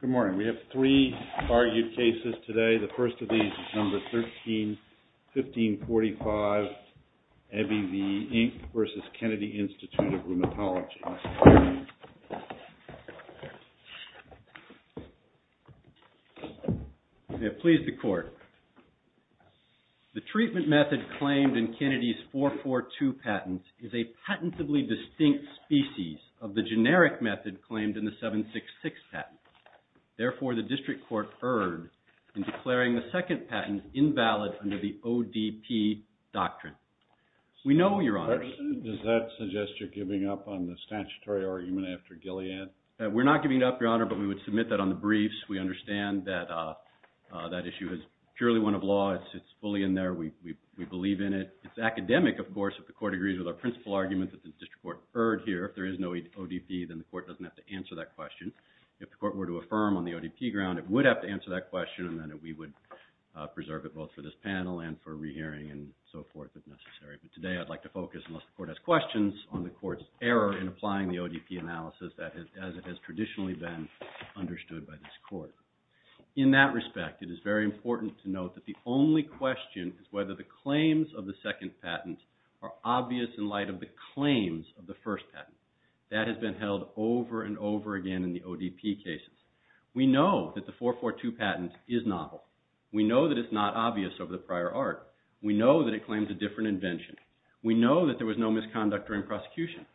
Good morning. We have three argued cases today. The first of these is No. 13-1545, Abbevie Inc. v. Kennedy Inst. of Rheumatology. May it please the Court. The treatment method claimed in Kennedy's 442 patent is a patentably distinct species of the generic method claimed in the 766 patent. Therefore, the District Court erred in declaring the second patent invalid under the ODP doctrine. We know, Your Honor. Does that suggest you're giving up on the statutory argument after Gilead? We're not giving up, Your Honor, but we would submit that on the briefs. We understand that that issue is purely one of law. It's fully in there. We believe in it. It's academic, of course, if the Court agrees with our principal argument that the District Court erred here. If there is no ODP, then the Court doesn't have to answer that question. If the Court were to affirm on the ODP ground, it would have to answer that question, and then we would preserve it both for this panel and for rehearing and so forth if necessary. But today, I'd like to focus, unless the Court has questions, on the Court's error in applying the ODP analysis as it has traditionally been understood by this Court. In that respect, it is very important to note that the only question is whether the claims of the second patent are obvious in light of the claims of the first patent. That has been held over and over again in the ODP cases. We know that the 442 patent is novel. We know that it's not obvious over the prior art. We know that it claims a different invention. We know that there was no misconduct during prosecution.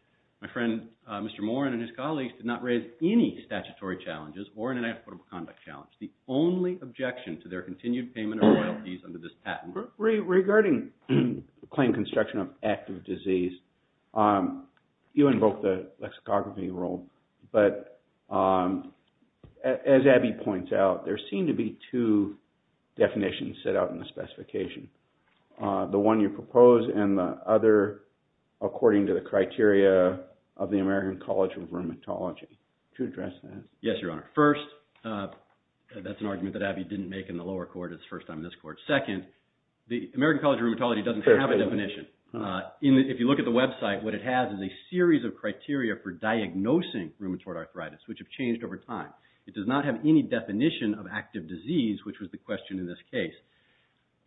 My friend, Mr. Morin, and his colleagues did not raise any statutory challenges or an inexplicable conduct challenge. The only objection to their continued payment of royalties under this patent... Regarding claim construction of active disease, you invoked the lexicography rule, but as Abby points out, there seem to be two definitions set out in the specification. The one you propose and the other according to the criteria of the American College of Rheumatology. To address that... Yes, Your Honor. First, that's an argument that Abby didn't make in the lower court. It's the first time in this court. Second, the American College of Rheumatology doesn't have a definition. If you look at the website, what it has is a series of criteria for diagnosing rheumatoid arthritis, which have changed over time. It does not have any definition of active disease, which was the question in this case.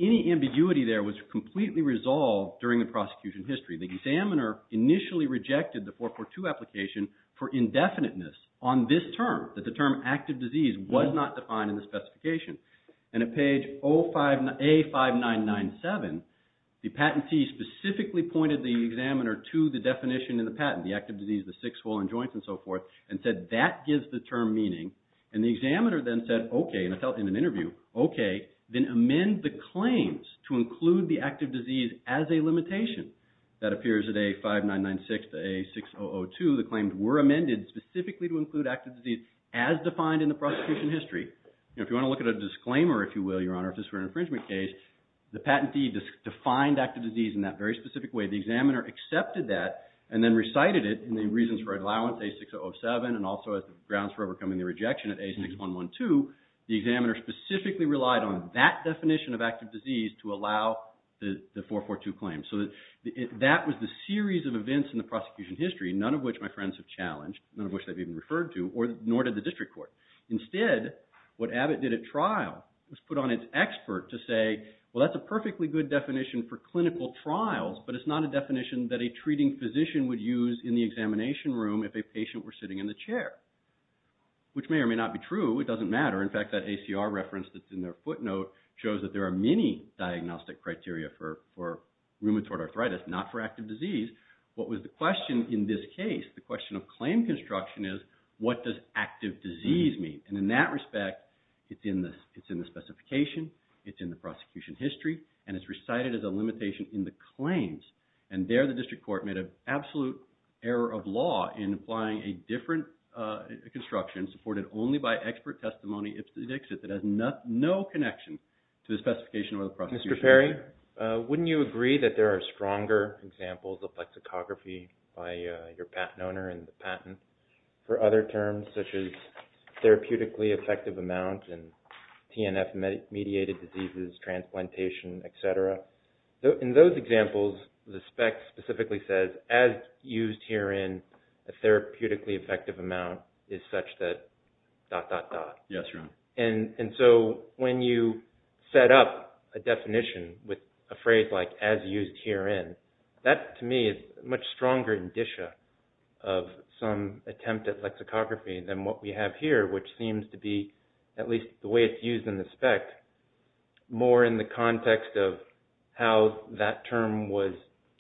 Any ambiguity there was completely resolved during the prosecution history. The examiner initially rejected the 442 application for indefiniteness on this term, that the term active disease was not defined in the specification. And at page A5997, the patentee specifically pointed the examiner to the definition in the patent, the active disease, the six swollen joints and so forth, and said that gives the term meaning. And the examiner then said, okay, and it's held in an interview, okay, then amend the claims to include the active disease as a limitation. That appears at A5996 to A6002. The claims were amended specifically to include active disease as defined in the prosecution history. If you want to look at a disclaimer, if you will, Your Honor, if this were an infringement case, the patentee defined active disease in that very specific way. The examiner accepted that and then recited it in the reasons for allowance, A6007, and also as the grounds for overcoming the rejection at A6112. The examiner specifically relied on that definition of active disease to allow the 442 claim. So that was the series of events in the prosecution history, none of which my friends have challenged, none of which they've even referred to, nor did the district court. Instead, what Abbott did at trial was put on its expert to say, well, that's a perfectly good definition for clinical trials, but it's not a definition that a treating physician would use in the examination room if a patient were sitting in the chair, which may or may not be true. It doesn't matter. In fact, that ACR reference that's in their footnote shows that there are many diagnostic criteria for rheumatoid arthritis, not for active disease. What was the question in this case? The question of claim construction is, what does active disease mean? And in that respect, it's in the specification, it's in the prosecution history, and it's recited as a limitation in the claims. And there, the district court made an absolute error of law in applying a different construction supported only by expert testimony that has no connection to the specification of the prosecution. Mr. Perry, wouldn't you agree that there are stronger examples of lexicography by your patent owner and the patent for other terms such as therapeutically effective amount and TNF-mediated diseases, transplantation, etc.? In those examples, the spec specifically says, as used herein, a therapeutically effective amount is such that dot, dot, dot. Yes, Your Honor. And so when you set up a definition with a phrase like as used herein, that to me is a much stronger indicia of some attempt at lexicography than what we have here, which seems to be at least the way it's used in the spec, more in the context of how that term was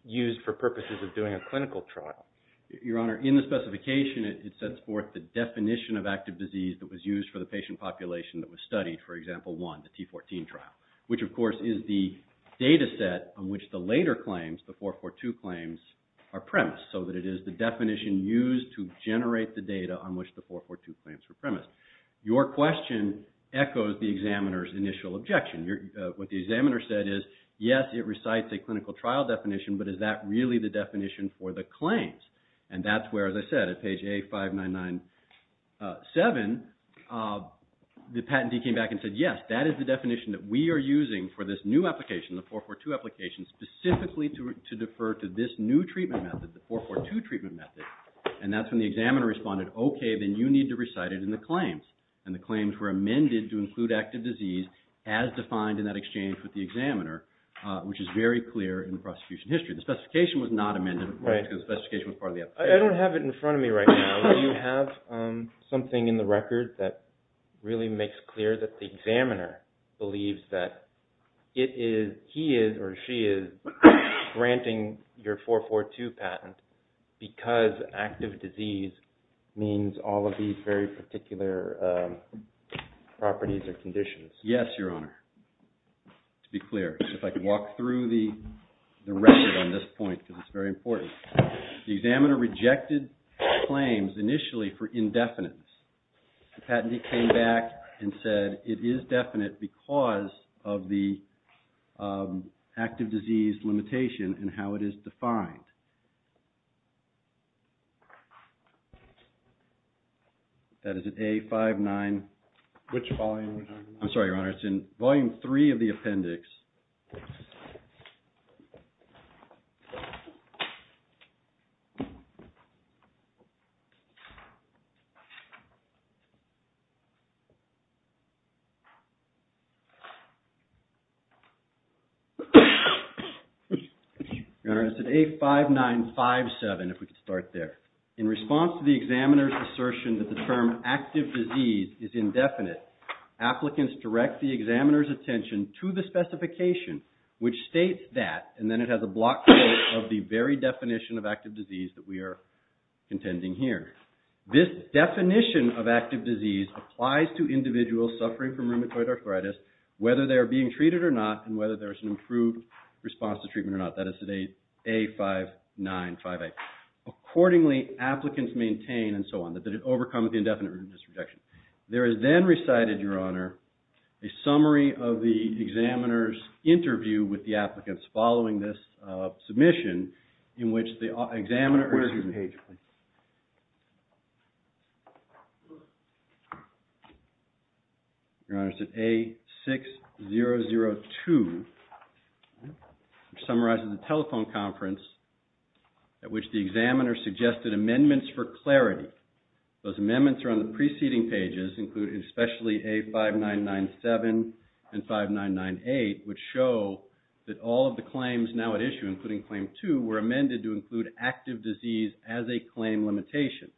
used for purposes of doing a clinical trial. Your Honor, in the specification, it sets forth the definition of active disease that was used for the patient population that was studied, for example, one, the T14 trial, which of course is the data set on which the later claims, the 442 claims, are premised, so that it is the definition used to generate the data on which the 442 claims were premised. Your question echoes the examiner's initial objection. What the examiner said is, yes, it recites a clinical trial definition, but is that really the definition for the claims? And that's where, as I said, at page A5997, the patentee came back and said, yes, that is the definition that we are using for this new application, the 442 application, specifically to defer to this new treatment method, the 442 treatment method. And that's when the examiner responded, okay, then you need to recite it in the claims. And the claims were amended to include active disease as defined in that exchange with the examiner, which is very clear in the prosecution history. The specification was not amended because the specification was part of the application. I don't have it in front of me right now. Do you have something in the record that really makes clear that the examiner believes that it is, he is, or she is, granting your 442 patent because active disease means all of these very particular properties or conditions? Yes, Your Honor. To be clear. If I could walk through the record on this point, because it's very important. The examiner rejected claims initially for indefinite. The patentee came back and said it is definite because of the that is an A59. Which volume? I'm sorry, Your Honor. It's in Volume 3 of the appendix. Your Honor, it's at A5957, if we could start there. In response to the examiner's assertion that the term active disease is indefinite, applicants direct the examiner's attention to the specification and not to the patent. Which states that, and then it has a block quote of the very definition of active disease that we are contending here. This definition of active disease applies to individuals suffering from rheumatoid arthritis, whether they are being treated or not, and whether there is an improved response to treatment or not. That is at A595A. Accordingly, applicants maintain, and so on, that it overcomes the indefinite rejection. There is then recited, Your Honor, a summary of the examiner's interview with the applicants following this submission in which the examiner. Where is your page, please? Your Honor, it's at A6002, which summarizes the telephone conference at which the applicants submitted their claims. The preceding pages include especially A5997 and 5998, which show that all of the claims now at issue, including Claim 2, were amended to include active disease as a claim limitation.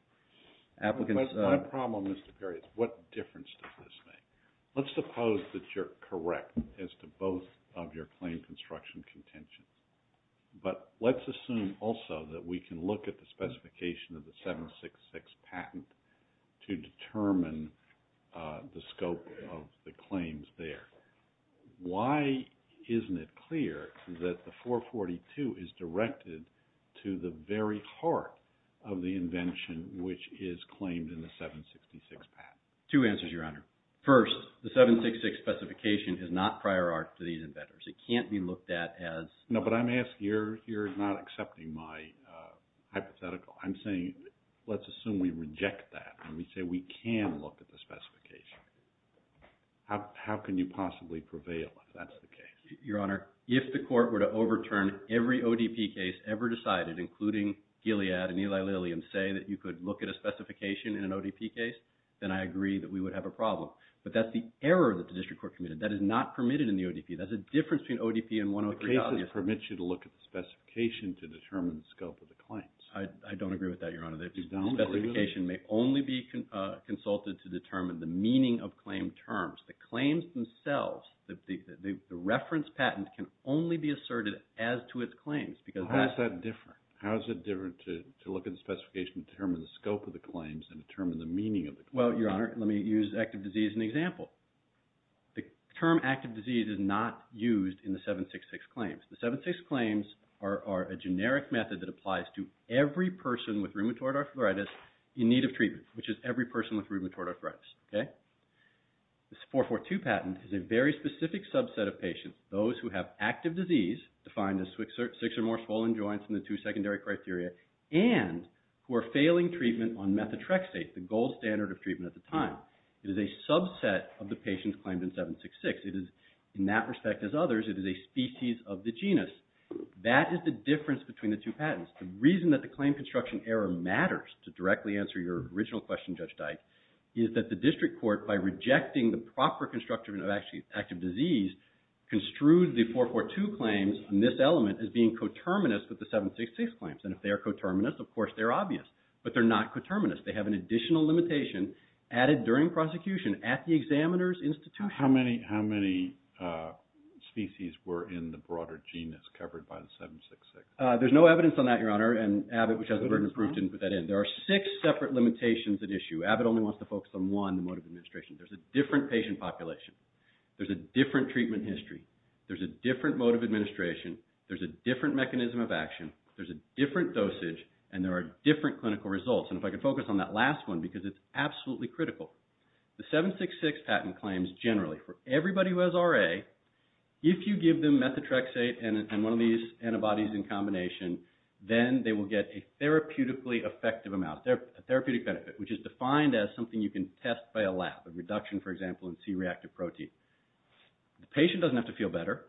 My problem, Mr. Perry, is what difference does this make? Let's suppose that you're correct as to both of your claim construction contentions, but let's assume also that we can look at the specification of the 766 patent to determine the scope of the claims there. Why isn't it clear that the 442 is directed to the very heart of the invention which is claimed in the 766 patent? Two answers, Your Honor. First, the 766 specification is not prior art to these inventors. It can't be looked at as... No, but I'm asking, you're not accepting my hypothetical. I'm saying let's assume we reject that and we say we can look at the specification. How can you possibly prevail if that's the case? Your Honor, if the court were to overturn every ODP case ever decided, including Gilead and Eli Lilly, and say that you could look at a specification in an ODP case, then I agree that we would have a problem. But that's the error that the district court committed. That is not permitted in the ODP. That's a difference between ODP and 103. The case that permits you to look at the specification to determine the scope of the claims. I don't agree with that, Your Honor. The specification may only be consulted to determine the meaning of claim terms. The claims themselves, the reference patent, can only be asserted as to its claims. How is that different? How is it different to look at the specification to determine the scope of the claims and determine the meaning of the claims? Well, Your Honor, let me use active disease as an example. The term active disease is not used in the 766 claims. The 766 claims are a generic method that applies to every person with rheumatoid arthritis in need of treatment, which is every person with rheumatoid arthritis. The 442 patent is a very specific subset of patients, those who have active disease, defined as six or more swollen joints in the two secondary criteria, and who are failing treatment on methotrexate, the gold standard of treatment at the time. It is a subset of the patients claimed in 766. It is, in that respect as others, it is a species of the genus. That is the difference between the two patents. The reason that the District Court, by rejecting the proper construction of active disease, construed the 442 claims in this element as being coterminous with the 766 claims. And if they are coterminous, of course they're obvious. But they're not coterminous. They have an additional limitation added during prosecution at the examiner's institution. How many species were in the broader genus covered by the 766? There's no evidence on that, Your Honor, and Abbott only wants to focus on one, the mode of administration. There's a different patient population. There's a different treatment history. There's a different mode of administration. There's a different mechanism of action. There's a different dosage, and there are different clinical results. And if I could focus on that last one, because it's absolutely critical. The 766 patent claims, generally, for everybody who has RA, if you give them methotrexate and one of these antibodies in combination, then they will get a therapeutically effective amount, a therapeutic benefit, which is defined as something you can test by a lab, a reduction, for example, in C-reactive protein. The patient doesn't have to feel better.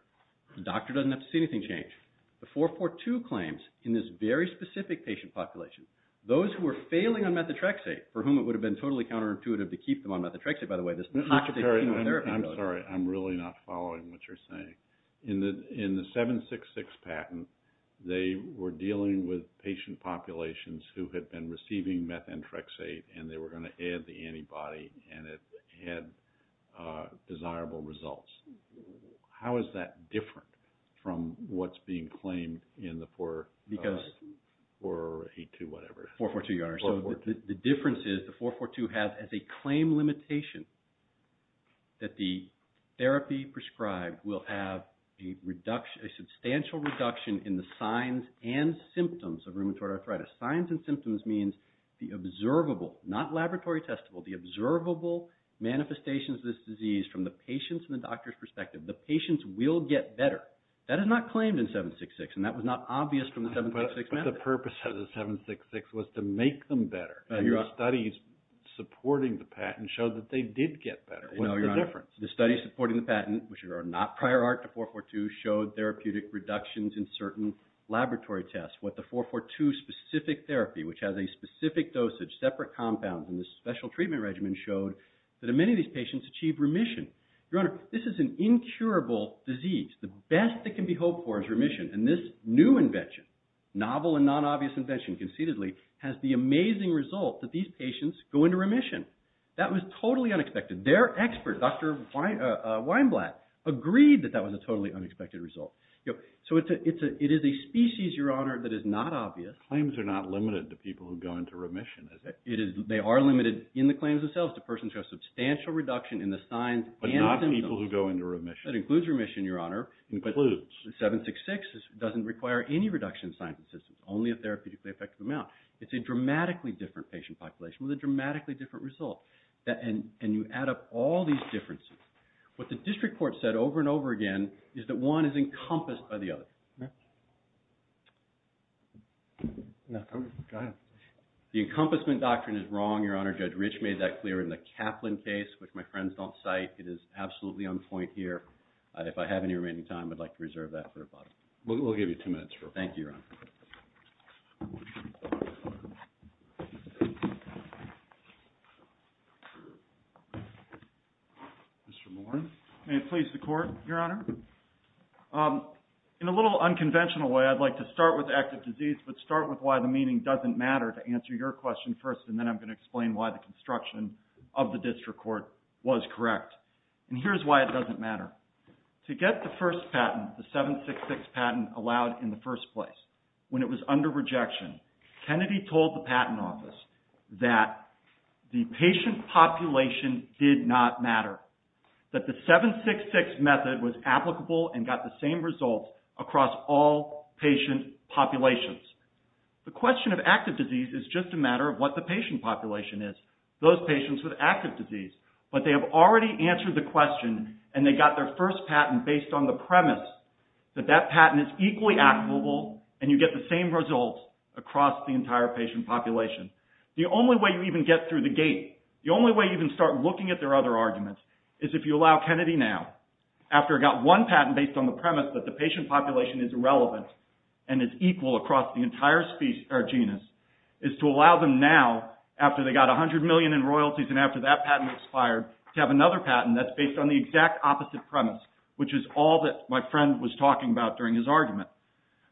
The doctor doesn't have to see anything change. The 442 claims in this very specific patient population, those who are failing on methotrexate, for whom it would have been totally counterintuitive to keep them on methotrexate, by the way, this is not just a clinical therapy. I'm sorry, I'm really not We're dealing with patient populations who had been receiving methotrexate, and they were going to add the antibody, and it had desirable results. How is that different from what's being claimed in the 442? Because the difference is the 442 has as a claim limitation that the therapy prescribed will have a substantial reduction in the signs and symptoms of rheumatoid arthritis. Signs and symptoms means the observable, not laboratory testable, the observable manifestations of this disease from the patient's and the doctor's perspective. The patients will get better. That is not claimed in 766, and that was not obvious from the 766 method. But the purpose of the 766 was to make them better. The studies supporting the patent showed that they did get better. What's the difference? The studies supporting the patent, which are not prior art to 442, showed therapeutic reductions in certain laboratory tests. What the 442 specific therapy, which has a specific dosage, separate compounds, and the special treatment regimen showed that in many of these patients achieved remission. Your Honor, this is an incurable disease. The best that can be hoped for is remission, and this new invention, novel and non-obvious invention, conceitedly, has the amazing result that these patients go into remission. That was totally unexpected. Their expert, Dr. Weinblatt, agreed that that was a totally unexpected result. So it is a species, Your Honor, that is not obvious. Claims are not limited to people who go into remission, is it? They are limited in the claims themselves to persons who have substantial reduction in the signs and symptoms. But not people who go into remission. That includes remission, Your Honor. 766 doesn't require any reduction in signs and symptoms, only a therapeutically effective amount. It's a dramatically different patient population with a dramatically different result. And you add up all these differences. What the district court said over and over again is that one is encompassed by the other. The encompassment doctrine is wrong, Your Honor. Judge Gould, if I have any remaining time, I'd like to reserve that for a moment. We'll give you two minutes. Thank you, Your Honor. Mr. Moore, may it please the Court, Your Honor? In a little unconventional way, I'd like to start with active disease, but start with why the meaning doesn't matter to answer your question first, and then I'm going to explain why the construction of the district court was correct. And here's why it doesn't matter. To get the first patent, the 766 patent, allowed in the first place, when it was under rejection, Kennedy told the patent office that the patient population did not matter. That the 766 method was applicable and got the same results across all patient populations. The question of active disease is just a matter of what the patient population is. Those patients with active disease. But they have already answered the question, and they got their first patent based on the premise that that patent is equally applicable, and you get the same results across the entire patient population. The only way you even get through the gate, the only way you can start looking at their other arguments, is if you allow Kennedy now, after it got one patent based on the premise that the patient population is equal, to allow Kennedy now, after they got 100 million in royalties and after that patent expired, to have another patent that's based on the exact opposite premise, which is all that my friend was talking about during his argument.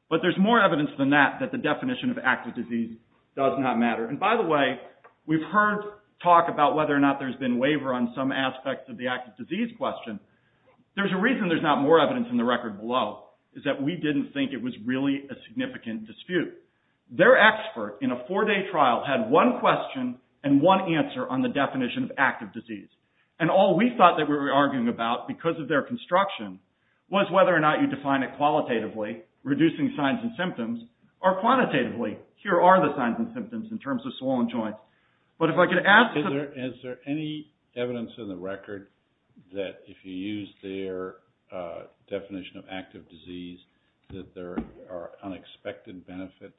But there's more evidence than that, that the definition of active disease does not matter. And by the way, we've heard talk about whether or not there's been waiver on some aspects of the active disease question. There's a reason there's not more evidence in the record below, is that we didn't think it was really a significant dispute. Their expert, in a four day trial, had one question and one answer on the definition of active disease. And all we thought that we were arguing about, because of their construction, was whether or not you define it qualitatively, reducing signs and symptoms, or quantitatively, here are the signs and symptoms in terms of swollen joints. But if I could ask... Is there any evidence in the record that if you use their definition of active disease, that there are unexpected benefits?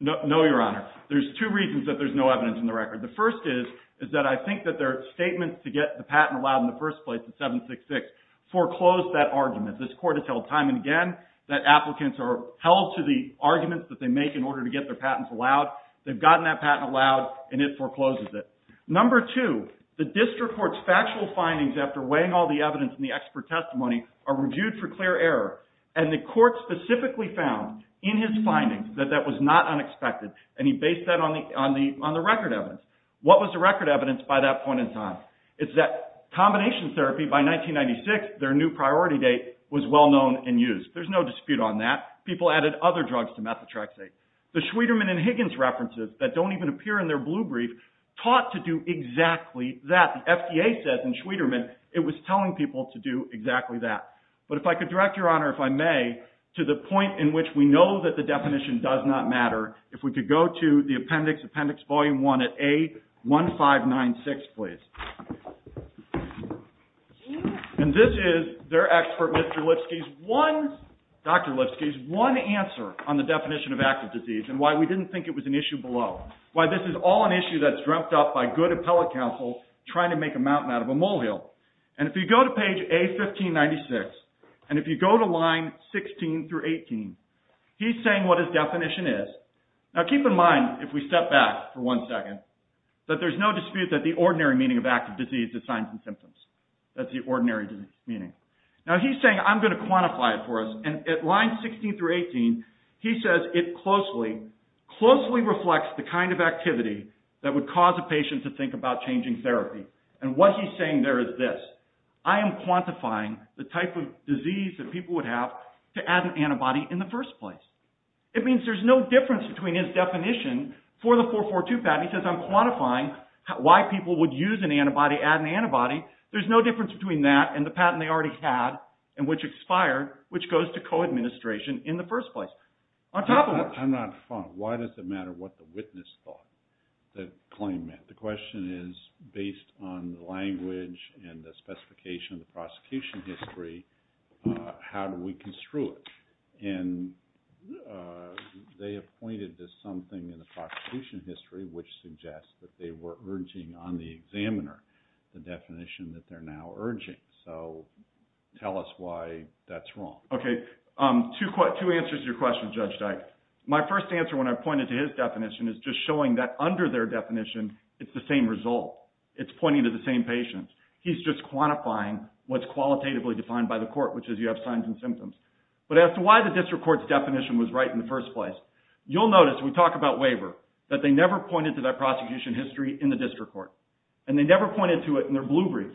No, your honor. There's two reasons that there's no evidence in the record. The first is, is that I think that their statement to get the patent allowed in the first place in 766 foreclosed that argument. This court has held time and again that applicants are held to the arguments that they make in order to get their patents allowed. They've gotten that patent allowed and it forecloses it. Number two, the district court's factual findings after weighing all the evidence in the expert testimony are reviewed for clear error. And the court specifically found in his findings that that was not unexpected. And he based that on the record evidence. What was the record evidence by that point in time? It's that combination therapy by 1996, their new priority date, was well known and used. There's no dispute on that. People added other drugs to methotrexate. The Schwederman and Higgins references that don't even appear in their blue brief taught to do exactly that. The FDA says in Schwederman it was telling people to do exactly that. But if I could direct, your honor, if I may, to the point in which we know that the definition does not matter, if we could go to the appendix, appendix volume 1 at A1596, please. And this is their expert Mr. Lipsky's one, Dr. Lipsky's one answer on the definition of active disease and why we didn't think it was an issue below. Why this is all an issue that's dreamt up by good appellate counsels trying to make a mountain out of a molehill. And if you go to page A1596 and if you go to line 16 through 18, he's saying what his definition is. Now keep in mind if we step back for one second, that there's no dispute that the ordinary meaning of active disease is signs and symptoms. That's the ordinary meaning. Now he's saying I'm going to quantify it for us and at line 16 through 18 he says it closely, closely reflects the kind of activity that would cause a patient to think about changing therapy. And what he's saying there is this. I am quantifying the type of disease that people would have to add an antibody in the first place. It means there's no difference between his definition for the 442 patent. He says I'm quantifying why people would use an antibody, add an antibody. There's no difference between that and the patent they already had and which expired, which goes to co-administration in the first place. On top of that. I'm not fond. Why does it matter what the witness thought the claim meant? The question is based on the language and the specification of the prosecution history, how do we construe it? And they have pointed to something in the prosecution history which suggests that they were urging on the examiner the definition that they're now urging. So tell us why that's wrong. Okay. Two answers to your question, Judge Dyke. My first answer when I pointed to his definition is just showing that under their definition, it's the same result. It's pointing to the same patient. He's just quantifying what's qualitatively defined by the court, which is you have signs and symptoms. But as to why the district court's definition was right in the first place, you'll notice we talk about waiver, that they never pointed to that prosecution history in the district court. And they never pointed to it in their blue brief.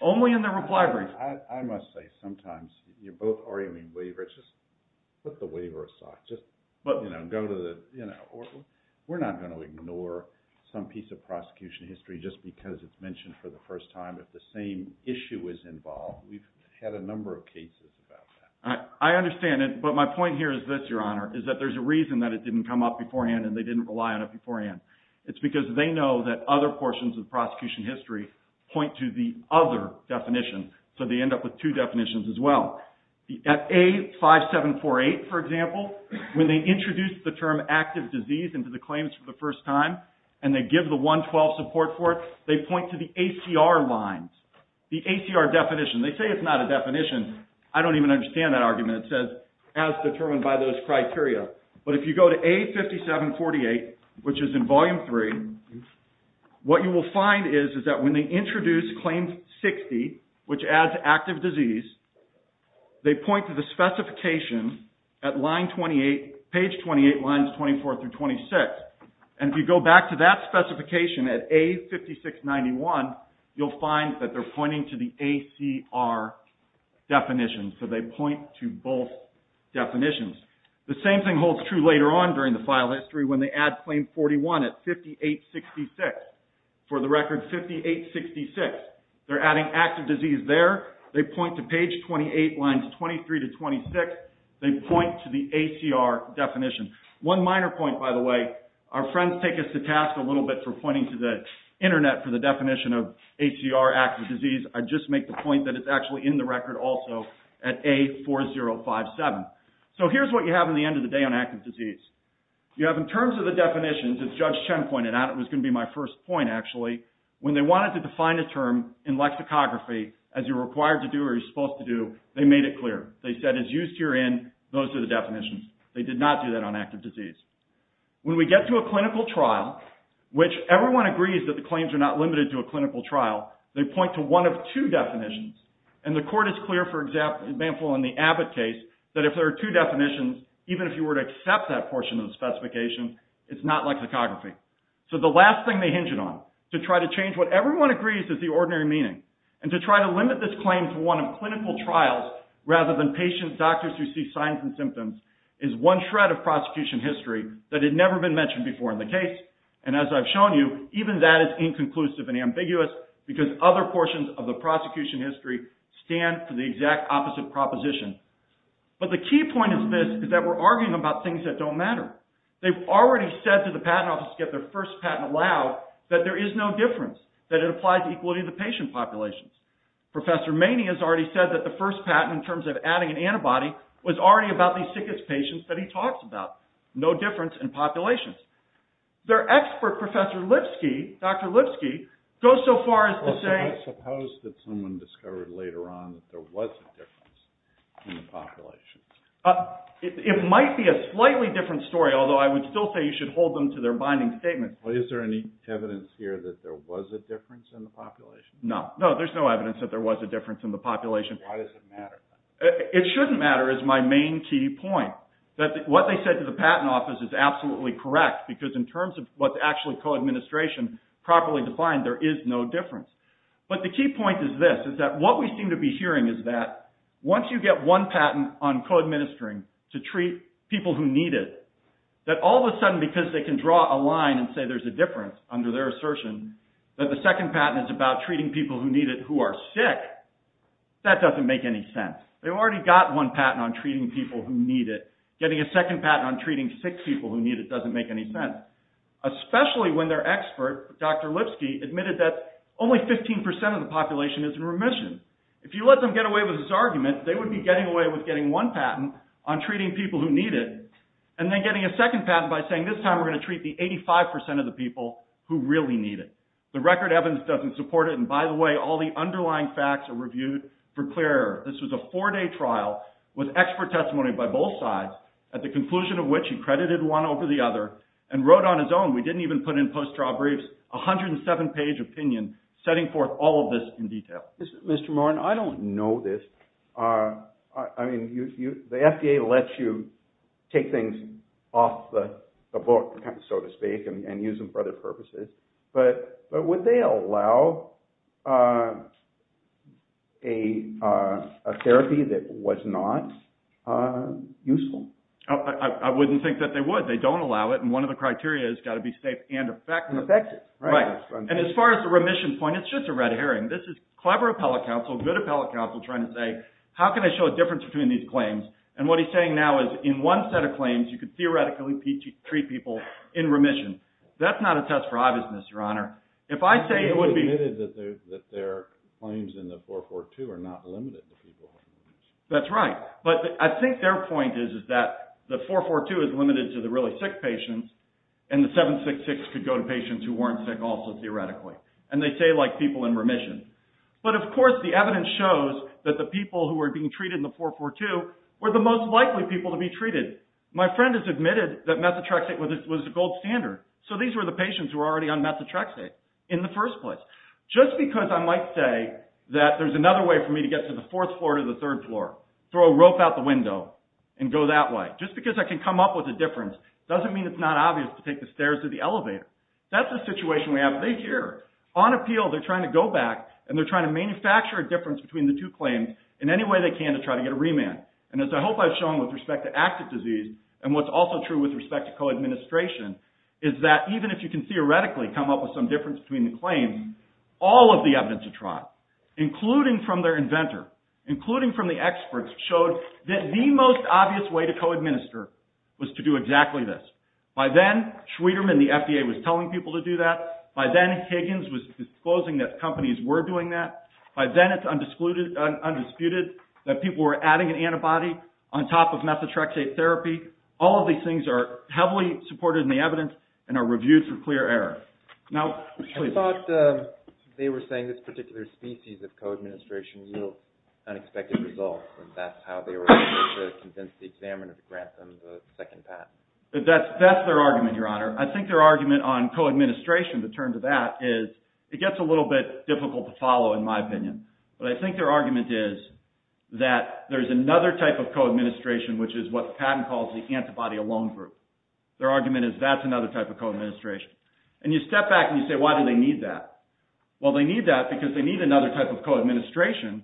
Only in their reply brief. I must say, sometimes you're both arguing waiver. Just put the waiver aside. We're not going to ignore some piece of prosecution history just because it's mentioned for the first time. If the same issue is involved, we've had a number of cases about that. I understand it, but my point here is this, Your Honor, is that there's a reason that it didn't come up beforehand and they didn't rely on it beforehand. It's because they know that other portions of the prosecution history point to the other definition. So they end up with two definitions as well. At A5748, for example, when they introduce the term active disease into the claims for the first time and they give the 112 support for it, they point to the ACR lines. The ACR definition. They say it's not a definition. I don't even understand that argument. It says, as determined by those criteria. But if you go to A5748, which is in Volume 3, what you will find is that when they introduce Claim 60, which adds active disease, they point to the specification at line 28, page 28, lines 24 through 26. And if you go back to that specification at A5691, you'll find that they're pointing to the ACR definition. So they point to both definitions. The same thing holds true later on during the file history when they add Claim 41 at 5866. For the record, 5866. They're adding active disease there. They point to page 28, lines 23 to 26. They point to the ACR definition. One minor point, by the way. Our friends take us to task a little bit for pointing to the internet for the definition of ACR, active disease. I just make the Here's what you have in the end of the day on active disease. You have in terms of the definitions, as Judge Chen pointed out, it was going to be my first point, actually. When they wanted to define a term in lexicography as you're required to do or you're supposed to do, they made it clear. They said, as used herein, those are the definitions. They did not do that on active disease. When we get to a clinical trial, which everyone agrees that the claims are not limited to a clinical trial, they point to one of two definitions. The court is clear, for example, in the Abbott case, that if there are two definitions, even if you were to accept that portion of the specification, it's not lexicography. The last thing they hinge it on, to try to change what everyone agrees is the ordinary meaning, and to try to limit this claim to one of clinical trials rather than patients, doctors who see signs and symptoms, is one shred of prosecution history that had never been mentioned before in the case. As I've shown you, even that is inconclusive and ambiguous, because other portions of the prosecution history stand for the exact opposite proposition. But the key point of this is that we're arguing about things that don't matter. They've already said to the patent office to get their first patent allowed that there is no difference, that it applies equally to the patient populations. Professor Maney has already said that the first patent, in terms of adding an antibody, was already about the sickest patients that he talks about. No difference in populations. Their expert, Professor Lipsky, Dr. Lipsky, goes so far as to say... Suppose that someone discovered later on that there was a difference in the population. It might be a slightly different story, although I would still say you should hold them to their binding statement. Is there any evidence here that there was a difference in the population? No. No, there's no evidence that there was a difference in the population. Why does it matter? It shouldn't matter is my main key point, that what they said to the patent office is absolutely correct, because in terms of what's actually co-administration, properly defined, there is no difference. But the key point is this, is that what we seem to be hearing is that once you get one patent on co-administering to treat people who need it, that all of a sudden, because they can draw a line and say there's a difference under their assertion, that the second patent is about treating people who need it who are sick, that doesn't make any sense. They've already got one patent on treating people who need it. Getting a second patent on treating sick people who need it doesn't make any sense. Especially when their expert, Dr. Lipsky, admitted that only 15% of the population is in remission. If you let them get away with this argument, they would be getting away with getting one patent on treating people who need it, and then getting a second patent by saying this time we're going to treat the 85% of the people who really need it. The record evidence doesn't support it, and by the way, all the underlying facts are reviewed for clearer. This was a four-day trial with expert testimony by both sides, at the conclusion of which he credited one over the other, and wrote on his own, we didn't even put in post-trial briefs, a 107-page opinion setting forth all of this in detail. Mr. Morin, I don't know this. I mean, the FDA lets you take things off the book, so to speak, and use them for other purposes. But would they allow a therapy that was not useful? I wouldn't think that they would. They don't allow it, and one of the criteria has got to be safe and effective. And effective. Right. And as far as the remission point, it's just a red herring. This is clever appellate counsel, good appellate counsel, trying to say, how can I show a difference between these claims? And what he's saying now is in one set of claims, you could theoretically treat people in remission. That's not a test for obviousness, Your Honor. If I say it would be... But they admitted that their claims in the 442 are not limited to people in remission. That's right. But I think their point is that the 442 is limited to the really sick patients, and the 766 could go to patients who weren't sick also, theoretically. And they say like people in remission. But of course, the evidence shows that the people who were being treated in the 442 were the most likely people to be treated. My friend has admitted that methotrexate was the gold standard. So these were the patients who were already on methotrexate in the first place. Just because I might say that there's another way for me to get to the fourth floor to the third floor, throw a rope out the window, and go that way. Just because I can come up with a difference doesn't mean it's not obvious to take the stairs to the elevator. That's a situation we have. They hear. On appeal, they're trying to go back, and they're trying to manufacture a difference between the two claims in any way they can to try to get a remand. And as I hope I've shown with respect to active disease, and what's also true with respect to co-administration, is that even if you can theoretically come up with some difference between the claims, all of the evidence of trial, including from their inventor, including from the experts, showed that the most obvious way to co-administer was to do exactly this. By then, Schwederman, the FDA, was telling people to do that. By then, Higgins was disclosing that companies were doing that. By then, it's undisputed that people were adding an antibody on top of methotrexate therapy. All of these things are heavily supported in the evidence and are reviewed for clear error. Now, please. I thought they were saying this particular species of co-administration yielded unexpected results, and that's how they were able to convince the examiner to grant them the second patent. That's their argument, Your Honor. I think their argument on co-administration, to turn to that, is it gets a little bit difficult to follow, in my opinion. But I think their argument is that there's another type of co-administration, which is what the patent calls the antibody alone group. Their argument is that's another type of co-administration. And you step back and you say, why do they need that? Well, they need that because they need another type of co-administration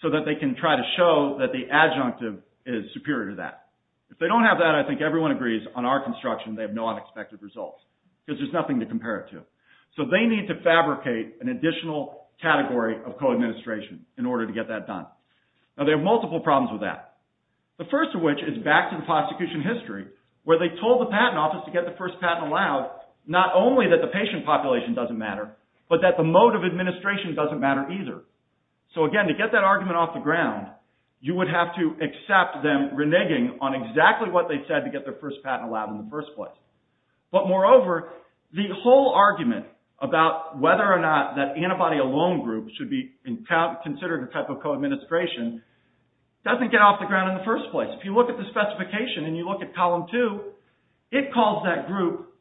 so that they can try to show that the adjunctive is superior to that. If they don't have that, I think everyone agrees on our construction, they have no unexpected results, because there's nothing to compare it to. So they need to fabricate an additional category of co-administration in order to get that done. Now, they have multiple problems with that. The first of which is back to the prosecution history, where they told the patent office to get the first patent allowed, not only that the patient population doesn't matter, but that the mode of administration doesn't matter either. So again, to get that argument off the ground, you would have to accept them reneging on exactly what they said to get their first patent allowed in the first place. But moreover, the whole argument about whether or not that antibody alone group should be considered a type of co-administration doesn't get off the ground in the first place. If you look at the specification and you look at column two, it calls that group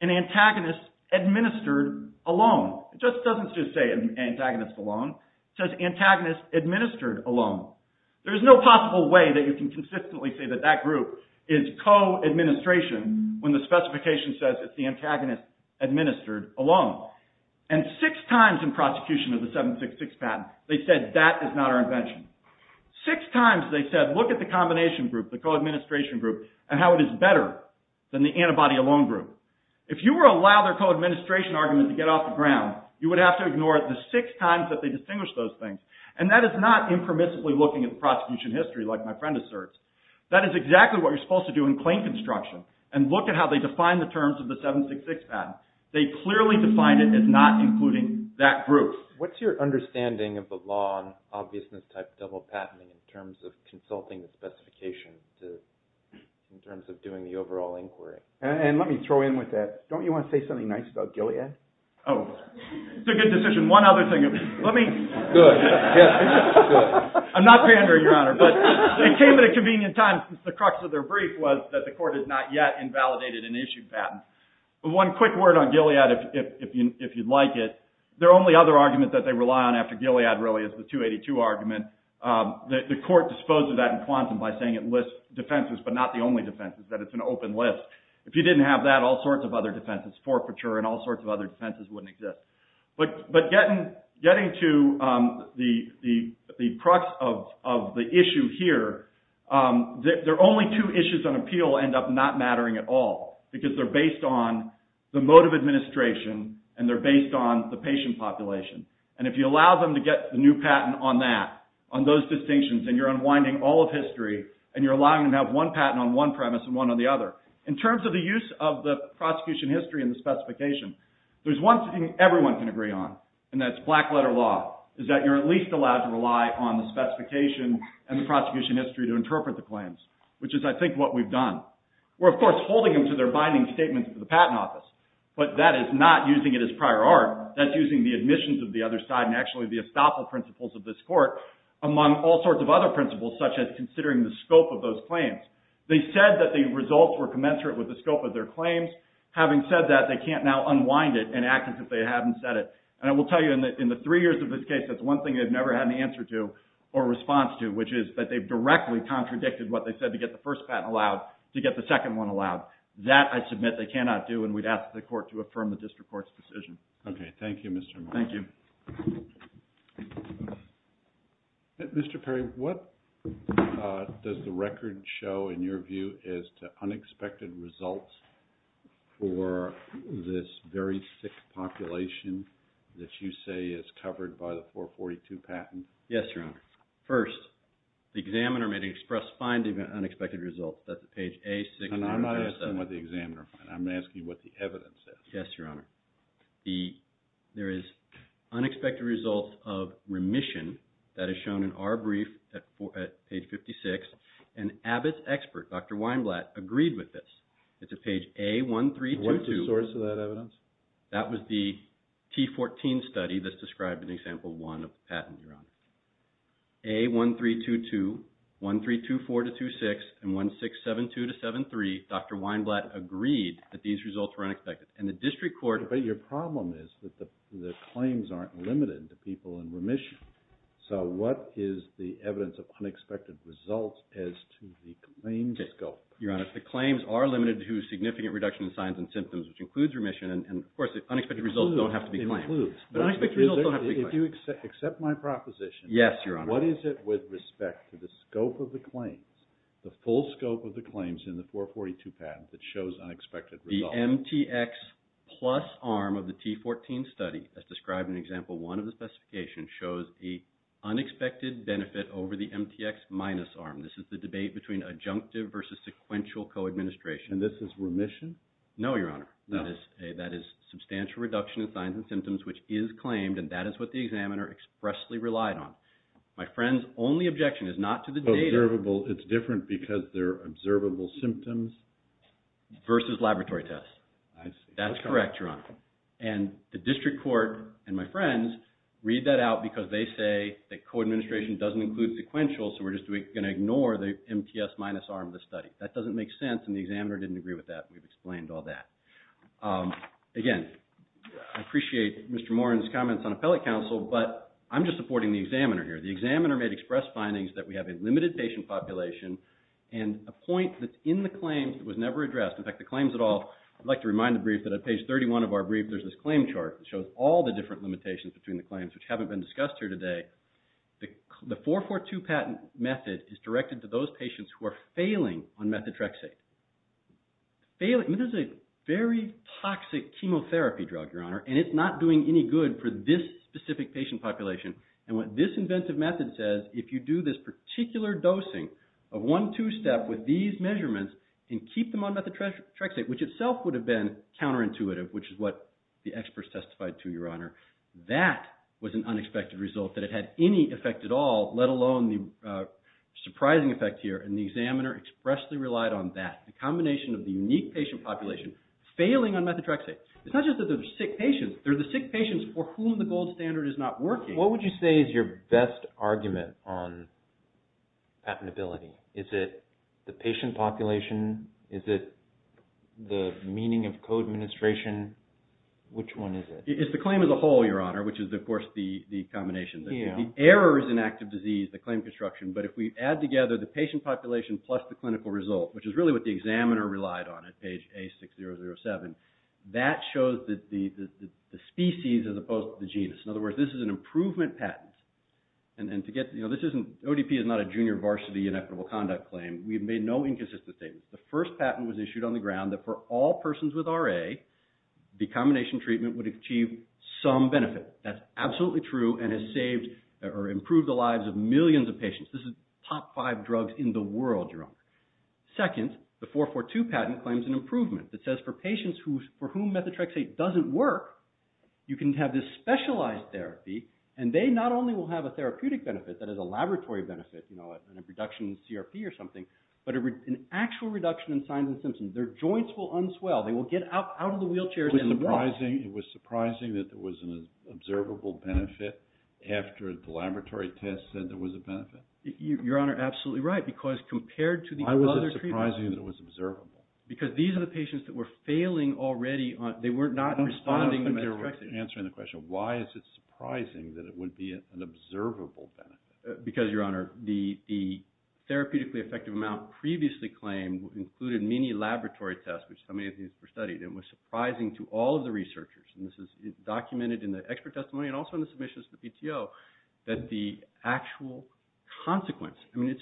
an antagonist administered alone. It doesn't just say antagonist alone. It says antagonist administered alone. There's no possible way that you can consistently say that that group is co-administration when the specification says it's the antagonist administered alone. And six times in prosecution of the 766 patent, they said that is not our invention. Six times they said, look at the combination group, the co-administration group, and how it is better than the antibody alone group. If you were to allow their co-administration argument to get off the ground, you would have to ignore the six times that they distinguished those things. And that is not impermissibly looking at the prosecution history like my friend asserts. That is exactly what you're supposed to do in claim construction and look at how they define the terms of the 766 patent. They clearly define it as not including that group. What's your understanding of the law on obviousness type double patenting in terms of consulting the specification in terms of doing the overall inquiry? And let me throw in with that, don't you want to say something nice about Gilead? Oh, it's a good decision. One other thing. Let me. Good. Good. I'm not pandering, Your Honor, but it came at a convenient time since the crux of their brief was that the court has not yet invalidated an issued patent. One quick word on Gilead if you'd like it. Their only other argument that they rely on after Gilead really is the 282 argument. The court disposed of that in quantum by saying it lists defenses, but not the only defenses, that it's an open list. If you didn't have that, all sorts of other defenses, forfeiture and all sorts of other defenses wouldn't exist. But getting to the crux of the issue here, their only two issues on appeal end up not mattering at all because they're based on the mode of administration and they're based on the patient population. And if you allow them to get the new patent on that, on those distinctions, then you're unwinding all of history and you're allowing them to have one patent on one premise and one on the other. In terms of the use of the prosecution history and the specification, there's one thing everyone can agree on, and that's black letter law, is that you're at least allowed to rely on the specification and the prosecution history to interpret the claims, which is, I think, what we've done. We're, of course, holding them to their binding statements to the patent office, but that is not using it as prior art. That's using the admissions of the other side and actually the estoppel principles of this court among all sorts of other principles such as considering the scope of those claims. They said that the results were commensurate with the scope of their claims. Having said that, they can't now unwind it and act as if they hadn't said it. And I will tell you, in the three years of this case, that's one thing they've never had an answer to or response to, which is that they've directly contradicted what they said to get the first patent allowed to get the second one allowed. That, I submit, they cannot do, and we'd ask the court to affirm the district court's decision. Okay. Thank you, Mr. Miller. Thank you. Mr. Perry, what does the record show, in your view, as to unexpected results for this very sick population that you say is covered by the 442 patent? Yes, Your Honor. First, the examiner may express finding an unexpected result. That's page A697. And I'm not asking what the examiner finds. I'm asking what the evidence says. Yes, Your Honor. There is unexpected results of remission. That is shown in our brief at page 56. And Abbott's expert, Dr. Weinblatt, agreed with this. It's at page A1322. What's the source of that evidence? That was the T14 study that's described in Example 1 of the patent, Your Honor. A1322, 1324-26, and 1672-73, Dr. Weinblatt agreed that these results were unexpected. But your problem is that the claims aren't limited to people in remission. So what is the evidence of unexpected results as to the claims scope? Your Honor, the claims are limited to significant reduction in signs and symptoms, which includes remission. And, of course, the unexpected results don't have to be claimed. But unexpected results don't have to be claimed. If you accept my proposition, what is it with respect to the scope of the claims, the full scope of the claims in the 442 patent that shows unexpected results? The MTX plus arm of the T14 study, as described in Example 1 of the specification, shows the unexpected benefit over the MTX minus arm. This is the debate between adjunctive versus sequential co-administration. And this is remission? No, Your Honor. That is substantial reduction in signs and symptoms, which is claimed, and that is what the examiner expressly relied on. My friend's only objection is not to the data. It's different because they're observable symptoms? Versus laboratory tests. That's correct, Your Honor. And the district court and my friends read that out because they say that co-administration doesn't include sequential, so we're just going to ignore the MTX minus arm of the study. That doesn't make sense, and the examiner didn't agree with that. We've explained all that. Again, I appreciate Mr. Morin's comments on appellate counsel, but I'm just supporting the examiner here. The examiner made express findings that we have a limited patient population and a point that's in the claims that was never addressed. In fact, the claims at all, I'd like to remind the brief that on page 31 of our brief, there's this claim chart that shows all the different limitations between the claims, which haven't been discussed here today. The 442 patent method is directed to those patients who are failing on methotrexate. This is a very toxic chemotherapy drug, Your Honor, and it's not doing any good for this specific patient population. And what this inventive method says, if you do this particular dosing of one two-step with these measurements and keep them on methotrexate, which itself would have been counterintuitive, which is what the experts testified to, Your Honor, that was an unexpected result. That it had any effect at all, let alone the surprising effect here, and the examiner expressly relied on that, a combination of the unique patient population failing on methotrexate. It's not just that they're sick patients. They're the sick patients for whom the gold standard is not working. What would you say is your best argument on patentability? Is it the patient population? Is it the meaning of co-administration? Which one is it? It's the claim as a whole, Your Honor, which is, of course, the combination. The errors in active disease, the claim construction, but if we add together the patient population plus the clinical result, which is really what the examiner relied on at page A6007, that shows that the species as opposed to the genus. In other words, this is an improvement patent. ODP is not a junior varsity inequitable conduct claim. We've made no inconsistent statements. The first patent was issued on the ground that for all persons with RA, the combination treatment would achieve some benefit. That's absolutely true and has improved the lives of millions of patients. Second, the 442 patent claims an improvement. It says for patients for whom methotrexate doesn't work, you can have this specialized therapy, and they not only will have a therapeutic benefit, that is a laboratory benefit, a reduction in CRP or something, but an actual reduction in signs and symptoms. Their joints will unswell. They will get out of the wheelchairs and walk. It was surprising that there was an observable benefit after the laboratory test said there was a benefit. Your Honor, absolutely right, because compared to the other treatments. Why was it surprising that it was observable? Because these are the patients that were failing already. They were not responding to methotrexate. Answering the question, why is it surprising that it would be an observable benefit? Because, Your Honor, the therapeutically effective amount previously claimed included many laboratory tests, which so many of these were studied. It was surprising to all of the researchers, and this is documented in the expert testimony and also in the submissions to the PTO, that the actual consequence. Where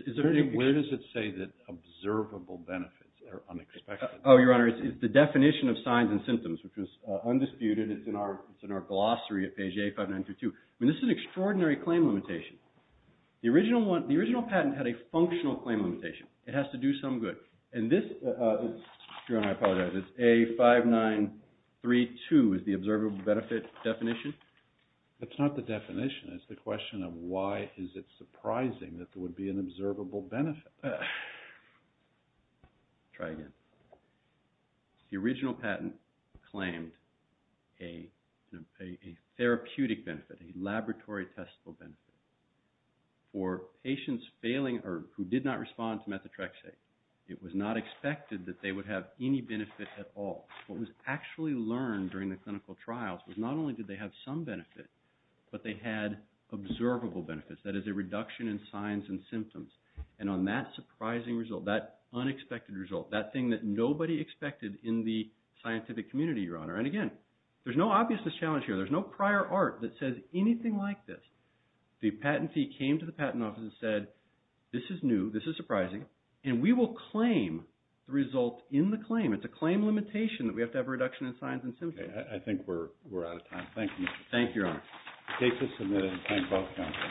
does it say that observable benefits are unexpected? Oh, Your Honor, it's the definition of signs and symptoms, which is undisputed. It's in our glossary at page 8592. I mean, this is an extraordinary claim limitation. The original patent had a functional claim limitation. It has to do some good. And this, Your Honor, I apologize, it's A5932 is the observable benefit definition. It's not the definition. It's the question of why is it surprising that there would be an observable benefit. Try again. The original patent claimed a therapeutic benefit, a laboratory testable benefit. For patients failing or who did not respond to methotrexate, it was not expected that they would have any benefit at all. What was actually learned during the clinical trials was not only did they have some benefit, but they had observable benefits. That is a reduction in signs and symptoms. And on that surprising result, that unexpected result, that thing that nobody expected in the scientific community, Your Honor, and again, there's no obviousness challenge here. There's no prior art that says anything like this. The patentee came to the patent office and said, this is new. This is surprising. And we will claim the result in the claim. It's a claim limitation that we have to have a reduction in signs and symptoms. Thank you. Thank you, Your Honor.